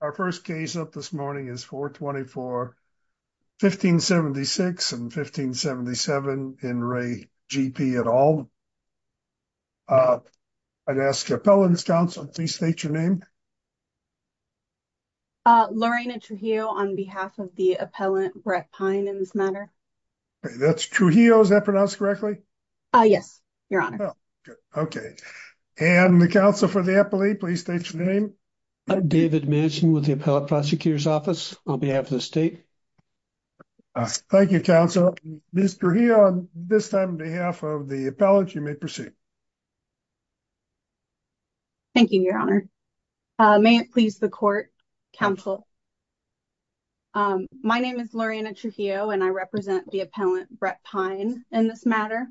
Our first case up this morning is 424-1576 and 1577 in Ray, G.P. et al. Uh, I'd ask your appellant's counsel, please state your name. Uh, Lorena Trujillo on behalf of the appellant, Brett Pine in this matter. That's Trujillo, is that pronounced correctly? Uh, yes, your honor. Okay. And the counsel for the appellate, please state your name. I'm David Manson with the appellate prosecutor's office on behalf of the state. Thank you, counsel. Trujillo, on this time on behalf of the appellant, you may proceed. Thank you, your honor. Uh, may it please the court, counsel. Um, my name is Lorena Trujillo and I represent the appellant, Brett Pine in this matter.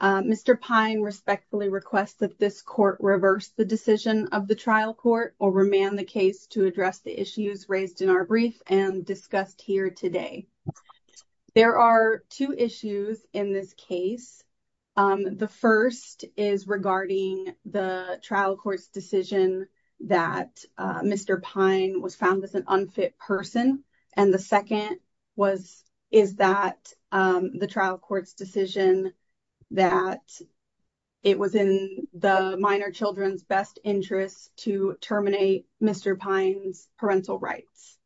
Uh, Mr. Pine respectfully requests that this court reverse the decision of the trial court or remand the case to address the issues raised in our brief and discussed here today, there are two issues in this case. Um, the first is regarding the trial court's decision that, uh, Mr. Pine was found as an unfit person. And the second was, is that, um, the trial court's decision that it was in the minor children's best interest to terminate Mr. Pine's parental rights.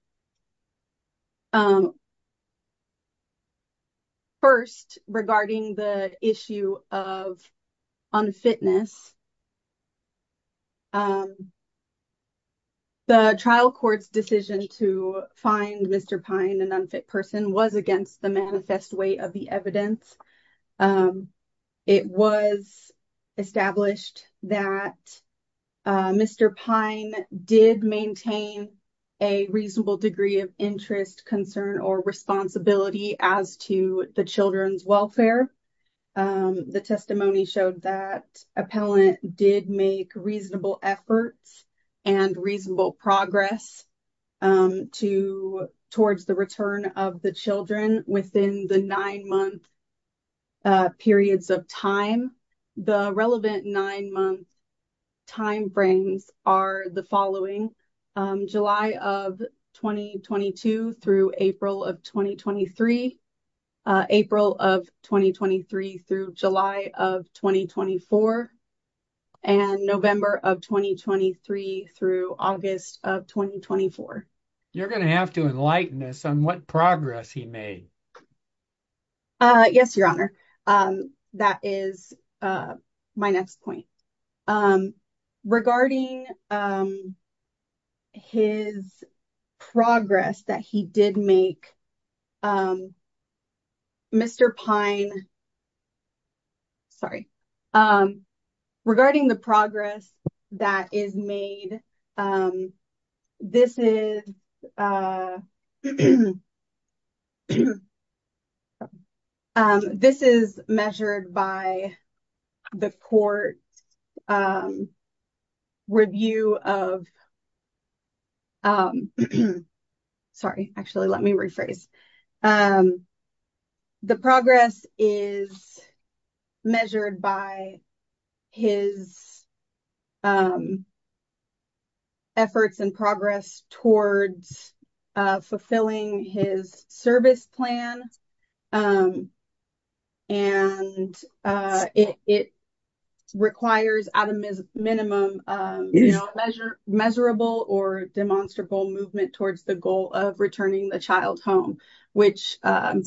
Um, first regarding the issue of unfitness, um, the trial court's decision to find Mr. Pine an unfit person was against the manifest way of the evidence. Um, it was established that, uh, Mr. Pine did maintain a reasonable degree of interest concern or responsibility as to the children's welfare. Um, the testimony showed that appellant did make reasonable efforts and reasonable progress, um, to, towards the return of the children within the nine month, uh, periods of time. The relevant nine month timeframes are the following, um, July of 2022 through April of 2023, uh, April of 2023 through July of 2024 and November of 2023 through August of 2024. You're going to have to enlighten us on what progress he made. Uh, yes, your honor. Um, that is, uh, my next point, um, regarding, um, his progress that he did make, um, Mr. Pine, sorry. Um, regarding the progress that is made, um, this is, uh, um, this is measured by the court, um, review of, um, sorry. Actually, let me rephrase. Um, the progress is measured by his, um, efforts and progress towards, uh, fulfilling his service plan. Um, and, uh, it, it requires at a minimum, um, measure measurable or demonstrable movement towards the goal of returning the child home, which, um,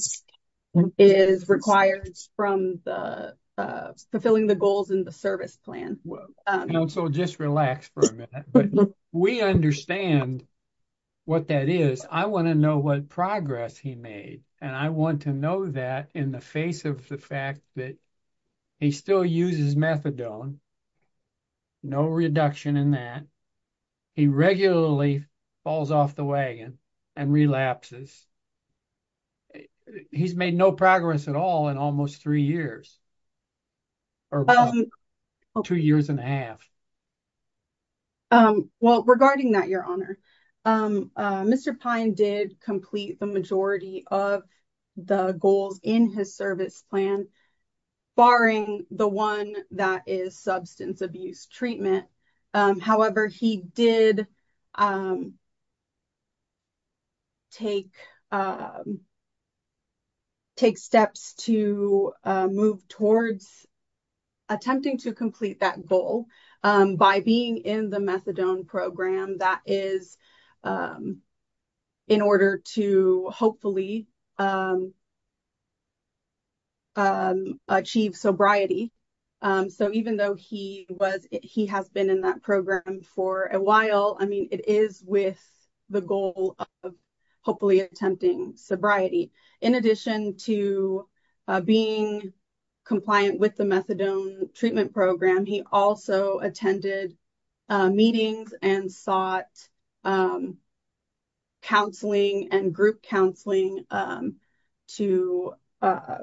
is required from the, uh, fulfilling the goals in the service plan. And so just relax for a minute, but we understand what that is. I want to know what progress he made. And I want to know that in the face of the fact that he still uses methadone. No reduction in that. He regularly falls off the wagon and relapses. He's made no progress at all in almost three years or two years and a half. Um, well, regarding that, your honor, um, uh, Mr. Pine did complete the majority of the goals in his service plan, barring the one that is substance abuse treatment. Um, however, he did, um, take, um, take steps to, uh, move towards attempting to complete that goal, um, by being in the methadone program that is, um, in order to hopefully, um, um, achieve sobriety. Um, so even though he was, he has been in that program for a while, I mean, it is with the goal of hopefully attempting sobriety in addition to, uh, being compliant with the methadone treatment program, he also attended, uh, meetings and sought, um, counseling and group counseling, um, to, uh,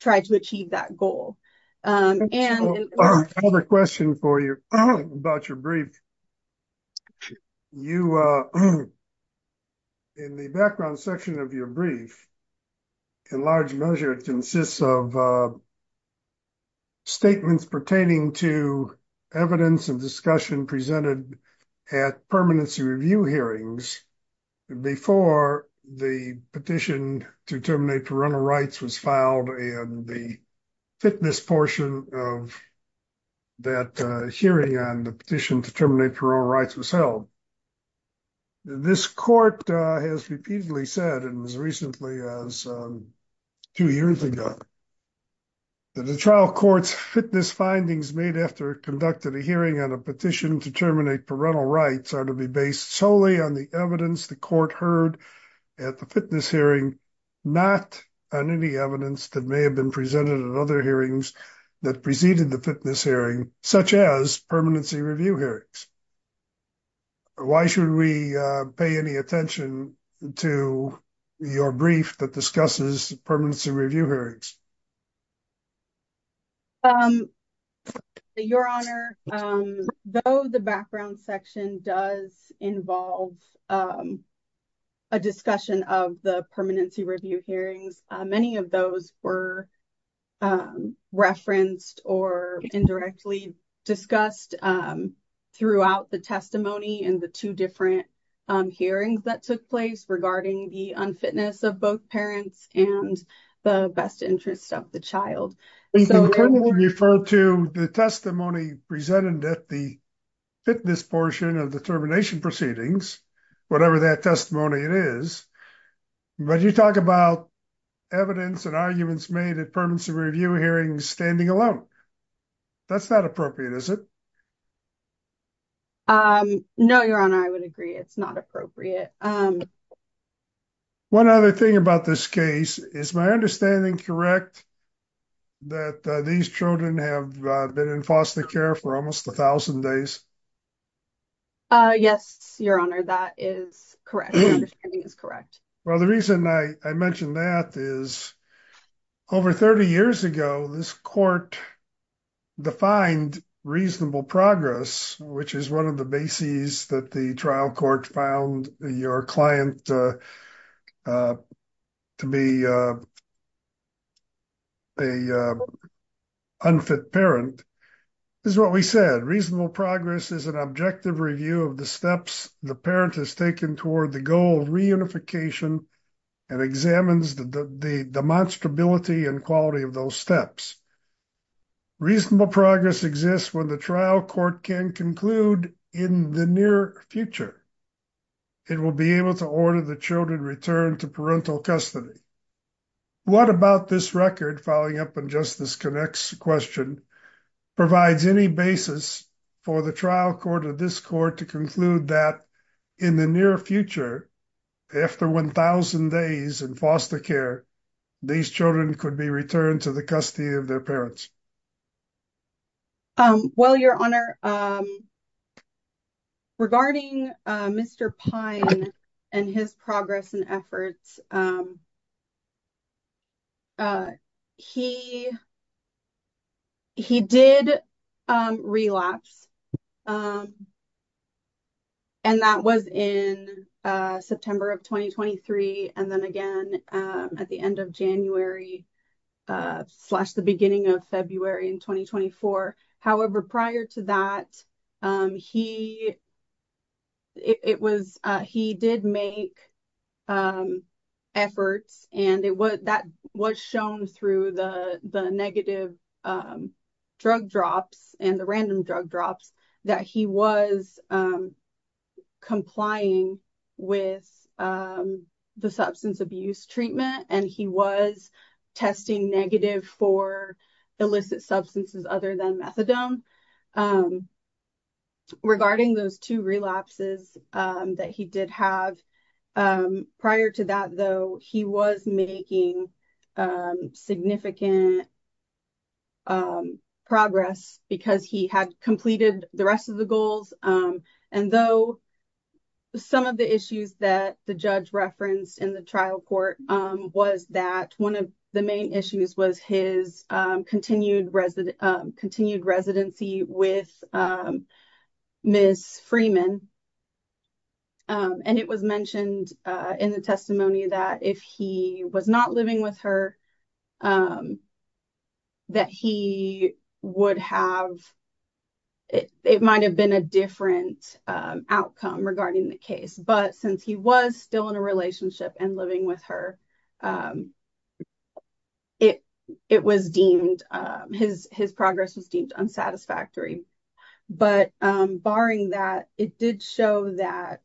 try to achieve that goal, um, and another question for you about your brief, you, uh, in the background section of your brief, in large measure, it consists of, uh, statements pertaining to evidence and discussion presented at permanency review hearings before the petition to terminate parental rights was filed. And the fitness portion of that, uh, hearing on the petition to terminate parole rights was held. This court, uh, has repeatedly said, and as recently as, um, two years ago, that the trial court's fitness findings made after conducting a hearing on a petition to terminate parental rights are to be based solely on the evidence the court heard at the fitness hearing, not on any evidence that may have been presented at other hearings that preceded the fitness hearing, such as permanency review hearings. Why should we, uh, pay any attention to your brief that discusses permanency review hearings? Um, your honor, um, though the background section does involve, um, a discussion of the permanency review hearings, uh, many of those were, um, referenced or indirectly discussed, um, throughout the testimony and the two different, um, hearings that took place regarding the unfitness of both parents and the best interest of the child. And so you refer to the testimony presented at the fitness portion of the termination proceedings, whatever that testimony it is, but you talk about evidence and arguments made at permanency review hearings standing alone, that's not appropriate, is it? Um, no, your honor, I would agree. It's not appropriate. Um, one other thing about this case, is my understanding correct that, uh, these children have, uh, been in foster care for almost a thousand days? Uh, yes, your honor. That is correct. My understanding is correct. Well, the reason I, I mentioned that is over 30 years ago, this court defined reasonable progress, which is one of the bases that the trial court found your client, uh, uh, to be, uh, a, uh, unfit parent. This is what we said. Reasonable progress is an objective review of the steps the parent has taken toward the goal of reunification and examines the demonstrability and quality of those steps. Reasonable progress exists when the trial court can in the near future, it will be able to order the children returned to parental custody. What about this record following up? And just this connects question provides any basis for the trial court of this court to conclude that in the near future, after 1,000 days in foster care, these children could be returned to the custody of their parents. Um, well, your honor, um, regarding, uh, Mr. Pine and his progress and efforts, um, uh, he, he did, um, relapse. Um, and that was in, uh, September of 2023. And then again, um, at the end of January, uh, slash the beginning of February in 2024. However, prior to that, um, he, it was, uh, he did make, um, efforts and it was, that was shown through the, the negative, um, drug drops and the random drug drops that he was, um, complying with, um, the substance abuse treatment, and he was testing negative for illicit substances, other than methadone. Um, regarding those two relapses, um, that he did have, um, prior to that, though, he was making, um, significant, um, progress because he had completed the rest of the goals. Um, and though some of the issues that the judge referenced in the trial court, um, was that one of the main issues was his, um, continued resident, um, continued residency with, um, Ms. Freeman, um, and it was mentioned, uh, in the testimony that if he was not living with her, um, that he would have, it, it might've been a different, um, outcome regarding the case, but since he was still in a relationship and living with her, um, it, it was deemed, um, his, his progress was deemed unsatisfactory. But, um, barring that, it did show that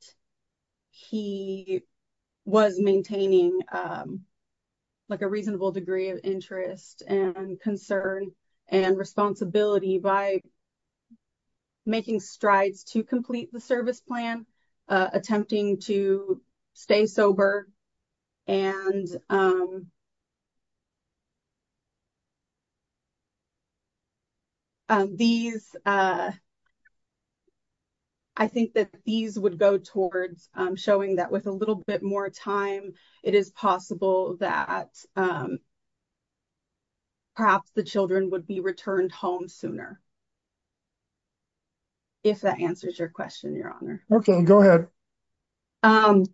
he was maintaining, um, like a reasonable degree of interest and concern and responsibility by making strides to complete the service plan, uh, attempting to stay sober. And, um, um, these, uh, I think that these would go towards, um, showing that with a little bit more time, it is possible that, um, perhaps the children would be returned home sooner, if that answers your question, your honor. Okay, go ahead. Um,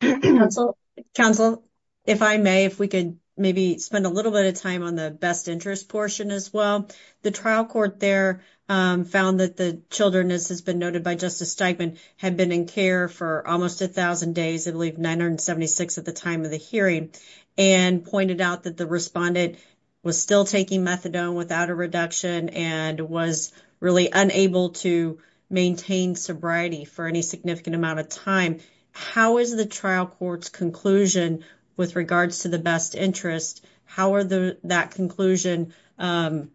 counsel, counsel, if I may, if we could maybe spend a little bit of time on the best interest portion as well, the trial court there, um, found that the children, as has been noted by Justice Steigman, had been in care for almost a thousand days, I believe 976 at the time of the hearing, and pointed out that the respondent was still taking methadone without a reduction and was really unable to maintain sobriety for any significant amount of time, how is the trial court's conclusion with regards to the best interest? How are the, that conclusion, um,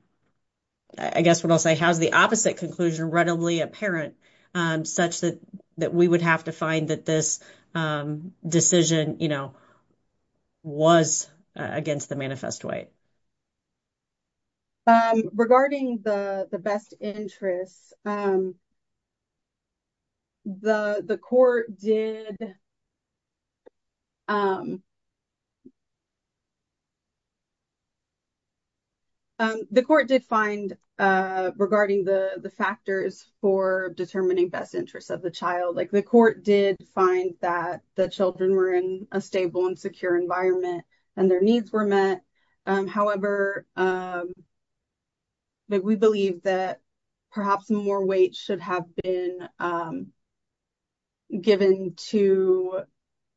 I guess what I'll say, how's the opposite conclusion readily apparent, um, such that, that we would have to find that this, um, decision, you know, was against the manifest way. Um, regarding the, the best interest, um, the, the court did, um, um, the court did find, uh, regarding the, the factors for determining best interests of the child, like the court did find that the children were in a stable and secure environment and their needs were met, um, however, um, like we believe that perhaps more weight should have been, um, given to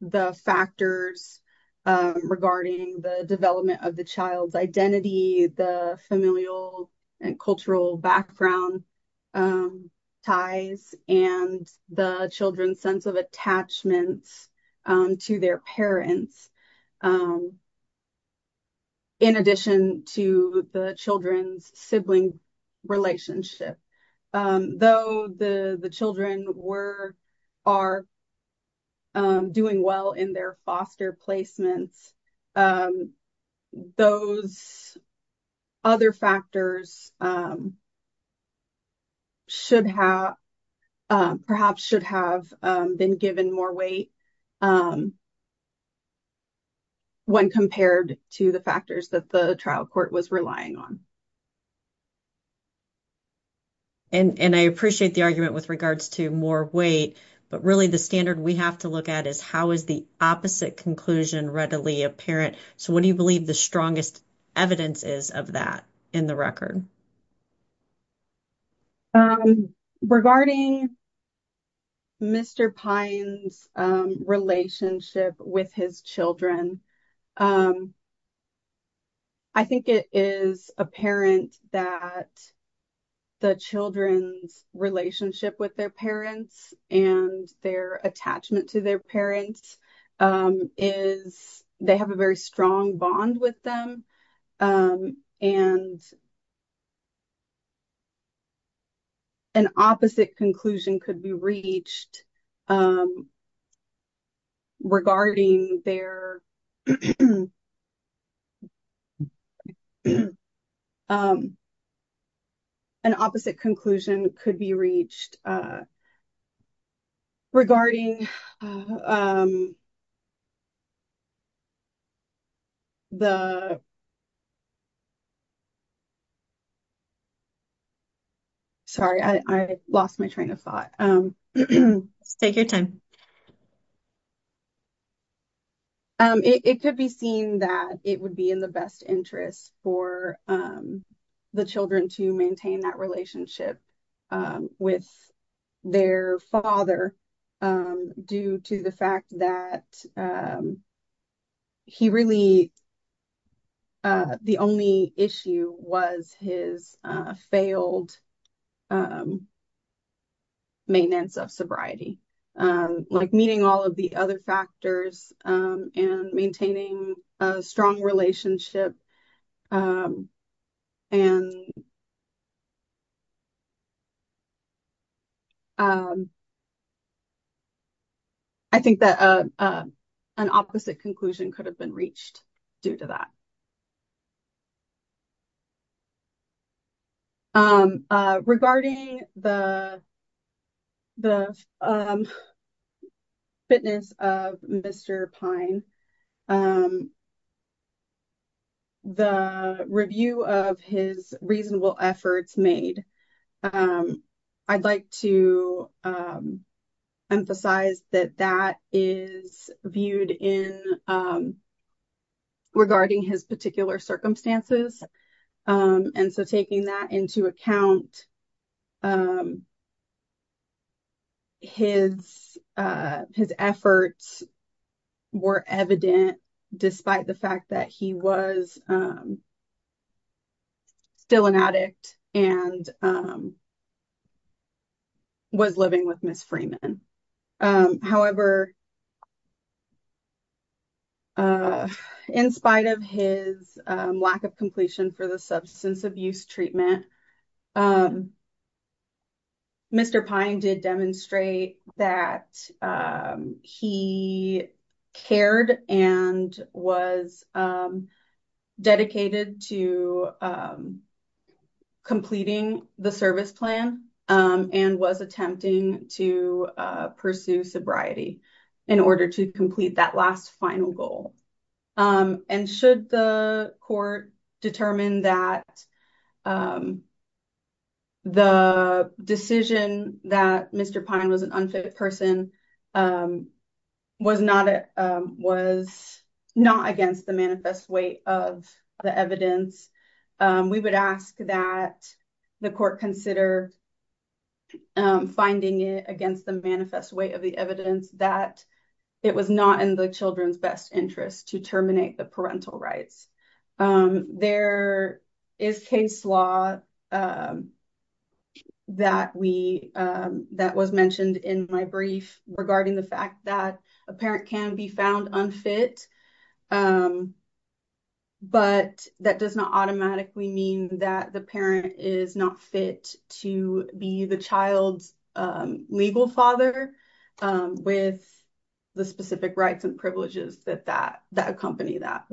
the factors, um, regarding the development of the child's identity, the familial and cultural background, um, ties and the children's sense of attachments, um, to their parents, um, in addition to the children's sibling relationship, um, though the, the children were, are, um, doing well in their foster placements, um, those other factors, um, should have, um, perhaps should have, um, been given more weight, um, when compared to the factors that the trial court was relying on. And, and I appreciate the argument with regards to more weight, but really the standard we have to look at is how is the opposite conclusion readily apparent? So, what do you believe the strongest evidence is of that in the record? Um, regarding Mr. Pine's, um, relationship with his children, um, I think it is apparent that the children's relationship with their parents and their attachment to their parents, um, is they have a very strong bond with them, um, and an opposite conclusion could be reached, um, regarding their, um, an opposite conclusion could be reached, uh, regarding, um, the, sorry, I, I lost my train of thought. Let's take your time. Um, it, it could be seen that it would be in the best interest for, um, the children to maintain that relationship, um, with their father, um, due to the fact that, um, he really, uh, the only issue was his, uh, failed, um, maintenance of sobriety, um, like meeting all of the other factors, um, and maintaining a strong relationship, um, and, um, I think that, uh, uh, an opposite conclusion could have been reached due to that. Um, uh, regarding the, the, um, fitness of Mr. Pine, um, um, the review of his reasonable efforts made, um, I'd like to, um, emphasize that that is viewed in, um, regarding his particular circumstances, um, and so taking that into account, um, his, uh, his efforts were evident despite the fact that he was, um, still an addict and, um, was living with Ms. Freeman. Um, however, uh, in spite of his, um, lack of completion for the substance abuse treatment, um, Mr. Pine did demonstrate that, um, he cared and was, um, dedicated to, um, in order to complete that last final goal. Um, and should the court determine that, um, the decision that Mr. Pine was an unfit person, um, was not, um, was not against the manifest weight of the evidence, um, we would ask that the court consider, um, finding it against the manifest weight of the evidence that it was not in the children's best interest to terminate the parental rights. Um, there is case law, um, that we, um, that was mentioned in my brief regarding the fact that a parent can be found unfit, um, but that does not automatically mean that the parent is not fit to be the child's, um, legal father, um, with the specific rights and privileges that that, that accompany that.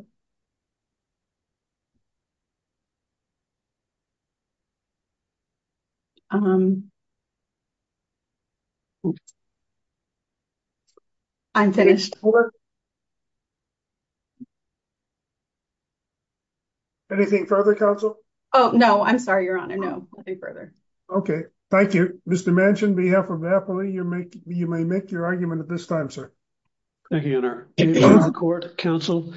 Um, I'm finished. Okay. Anything further council? Oh, no, I'm sorry. Your honor. No, nothing further. Okay. Thank you, Mr. Manchin behalf of happily you make, you may make your argument at this time, sir. Thank you, your honor court council.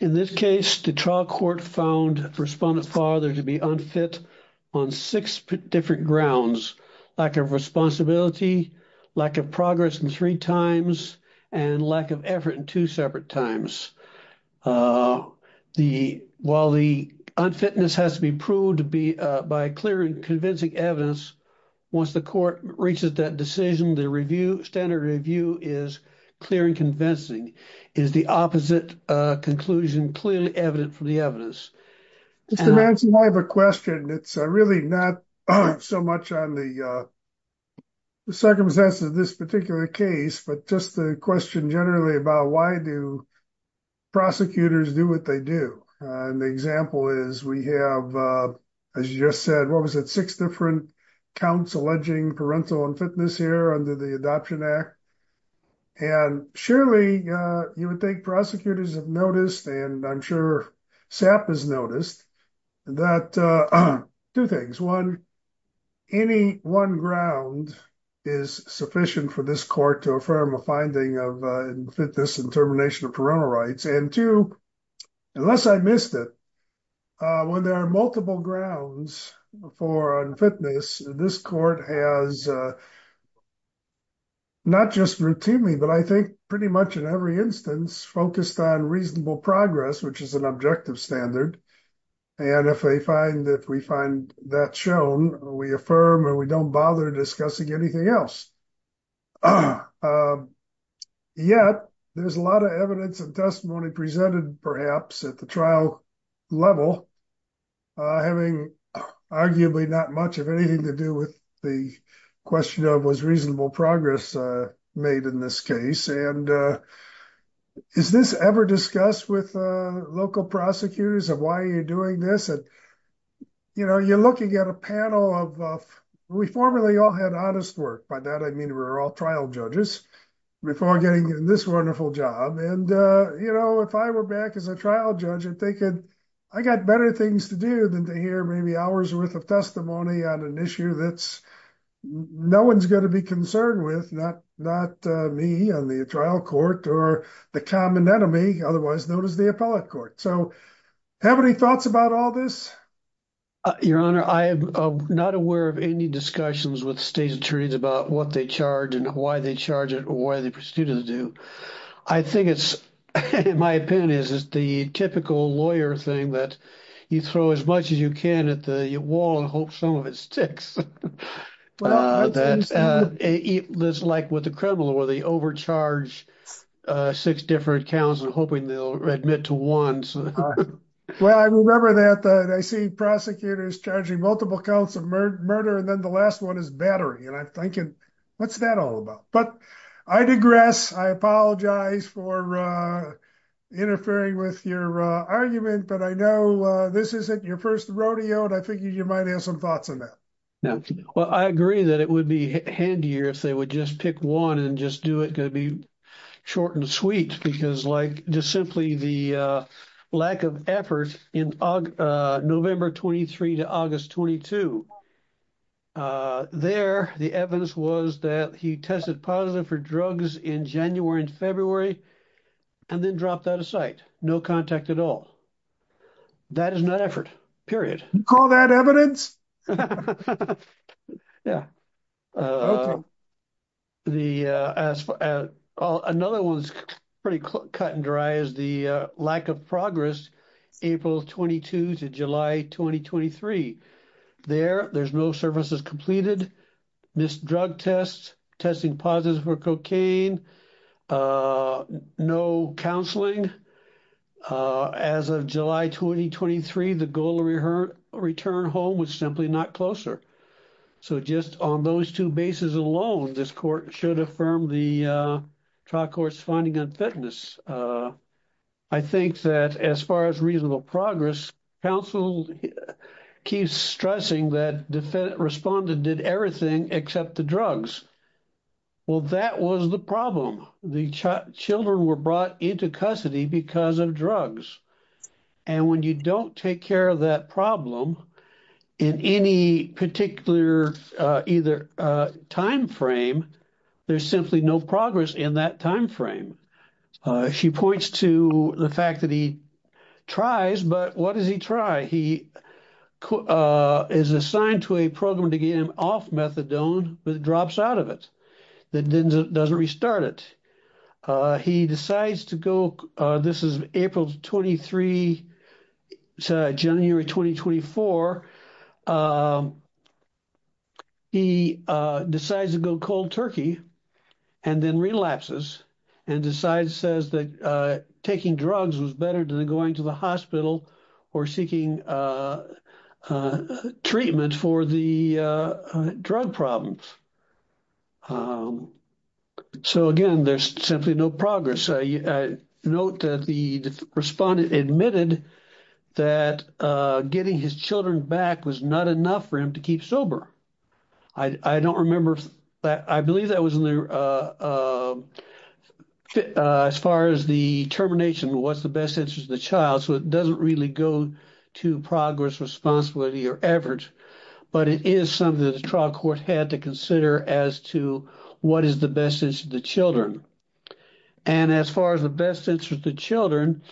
In this case, the trial court found respondent father to be unfit on six different grounds, lack of responsibility, lack of progress in three times and lack of effort in two separate times. Uh, the, while the unfitness has to be proved to be, uh, by clear and convincing evidence, once the court reaches that decision, the review standard review is clear and convincing is the opposite, uh, conclusion clearly evident from the evidence. Mr. Manchin, I have a question. It's really not so much on the, uh, the circumstances of this case, but just the question generally about why do prosecutors do what they do? And the example is we have, uh, as you just said, what was it? Six different counts alleging parental unfitness here under the adoption act. And surely, uh, you would think prosecutors have noticed, and I'm sure SAP has noticed that, uh, two things, one, any one ground is sufficient for this court to affirm a finding of, uh, in fitness and termination of parental rights. And two, unless I missed it, uh, when there are multiple grounds for unfitness, this court has, uh, not just routinely, but I think pretty much in every instance focused on reasonable progress, which is an objective standard. And if they find that we find that shown, we affirm, or we don't bother discussing anything else. Um, yet there's a lot of evidence and testimony presented perhaps at the trial level, uh, having arguably not much of anything to do with the question of was reasonable progress, uh, made in this case. And, uh, is this ever discussed with, uh, local prosecutors of why are you doing this? And, you know, you're looking at a panel of, uh, we formerly all had honest work by that. I mean, we're all trial judges before getting in this wonderful job. And, uh, you know, if I were back as a trial judge and they could, I got better things to do than to hear maybe hours worth of testimony on an issue that's no one's going to be concerned with, not, not, uh, me on the trial court or the common enemy, otherwise known as the appellate court. So how many thoughts about all this? Your Honor, I am not aware of any discussions with state attorneys about what they charge and why they charge it or why the prosecutors do. I think it's, my opinion is, is the typical lawyer thing that you throw as much as you can at the wall and hope some of it sticks. Uh, that, uh, it was like with the criminal where they overcharge, uh, six different counts and hoping they'll admit to one. Well, I remember that, uh, I see prosecutors charging multiple counts of murder and then the last one is battery. And I'm thinking, what's that all about? But I digress. I apologize for, uh, interfering with your, uh, argument, but I know, uh, this isn't your first rodeo. And I figured you might have some thoughts on that. Well, I agree that it would be handier if they would just pick one and just do it, going to be short and sweet because like just simply the, uh, lack of effort in, uh, November 23 to August 22, uh, there, the evidence was that he tested positive for drugs in January and February, and then dropped out of sight, no contact at all. That is not effort, period. Call that evidence? Yeah. Uh, the, uh, as, uh, another one's pretty cut and dry is the, uh, lack of progress, April 22 to July, 2023. There, there's no services completed, missed drug tests, testing positive for cocaine, uh, no counseling, uh, as of July, 2023, the goal of return home was simply not closer. So just on those two bases alone, this court should affirm the, uh, trial court's finding on fitness. Uh, I think that as far as reasonable progress, counsel keeps stressing that defendant responded, did everything except the drugs. Well, that was the problem. The children were brought into custody because of drugs. And when you don't take care of that problem in any particular, uh, either, uh, timeframe, there's simply no progress in that timeframe. Uh, she points to the fact that he tries, but what does he try? He, uh, is assigned to a program to get him off methadone, but drops out of it. That didn't, doesn't restart it. Uh, he decides to go, uh, this is April 23 to January, 2024. Um, he, uh, decides to go cold Turkey and then relapses and decides says that, uh, taking drugs was better than going to the hospital or seeking, uh, uh, treatment for the, uh, drug problems. Um, so again, there's simply no progress. I note that the respondent admitted that, uh, getting his children back was not enough for him to keep sober. I don't remember that. I believe that was in the, uh, uh, uh, as far as the termination, what's the best interest of the child. So it doesn't really go to progress responsibility or effort, but it is something that the trial court had to consider as to what is the best interest of the children. And as far as the best interest of the children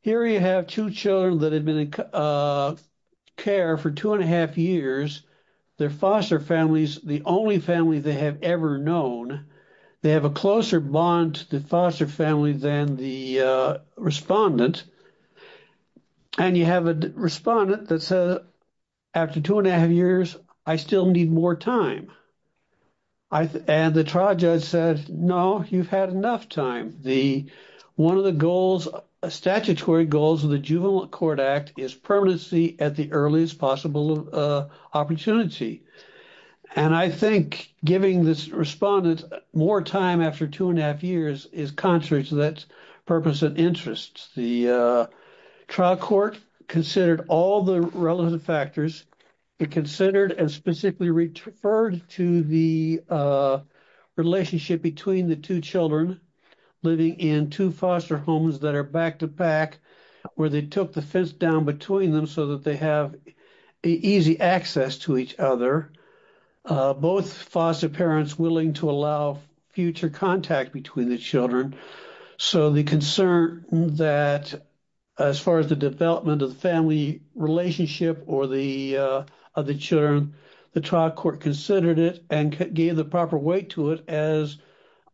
here, you have two children that had been in, uh, care for two and a half years, their foster families, the only family they have ever known. They have a closer bond to the foster family than the, uh, respondent. And you have a respondent that said, after two and a half years, I still need more time. I, and the trial judge said, no, you've had enough time. The, one of the goals, statutory goals of the juvenile court act is permanency at the earliest possible, uh, opportunity. And I think giving this respondent more time after two and a half years is contrary to that purpose and interest. The, uh, trial court considered all the relevant factors. It considered and specifically referred to the, uh, relationship between the two children living in two foster homes that are back to back where they took the fence down between them so that they have easy access to each other. Uh, both foster parents willing to allow future contact between the children. So the concern that as far as the development of the family relationship or the, uh, of the children, the trial court considered it and gave the proper weight to it as,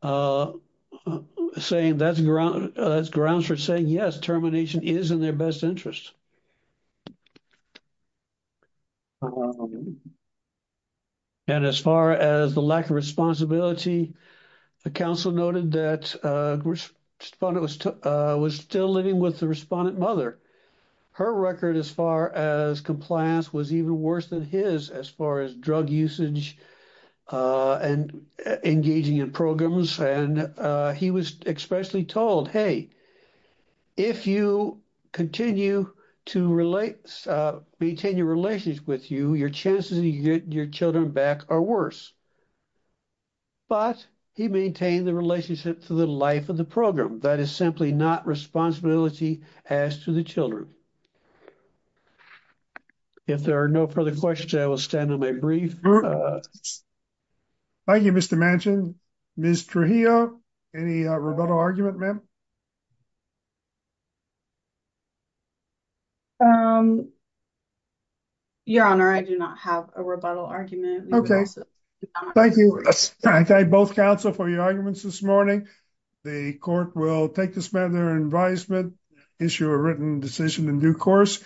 uh, saying that's ground, uh, grounds for saying, yes, termination is in their best interest. And as far as the lack of responsibility, the counsel noted that, uh, respondent was, uh, was still living with the respondent mother. Her record as far as compliance was even worse than his, as far as drug usage, uh, and engaging in programs. And, uh, he was especially told, hey, if you continue to relate, uh, maintain your relations with you, your chances of getting your children back are worse, but he maintained the relationship to the life of the program. That is simply not responsibility as to the children. If there are no further questions, I will stand on my brief. Thank you, Mr. Manchin. Ms. Trujillo, any rebuttal argument, ma'am? Um, your honor, I do not have a rebuttal argument. Okay. Thank you. I thank both counsel for your arguments this morning. The court will take this matter in advisement, issue a written decision in due course.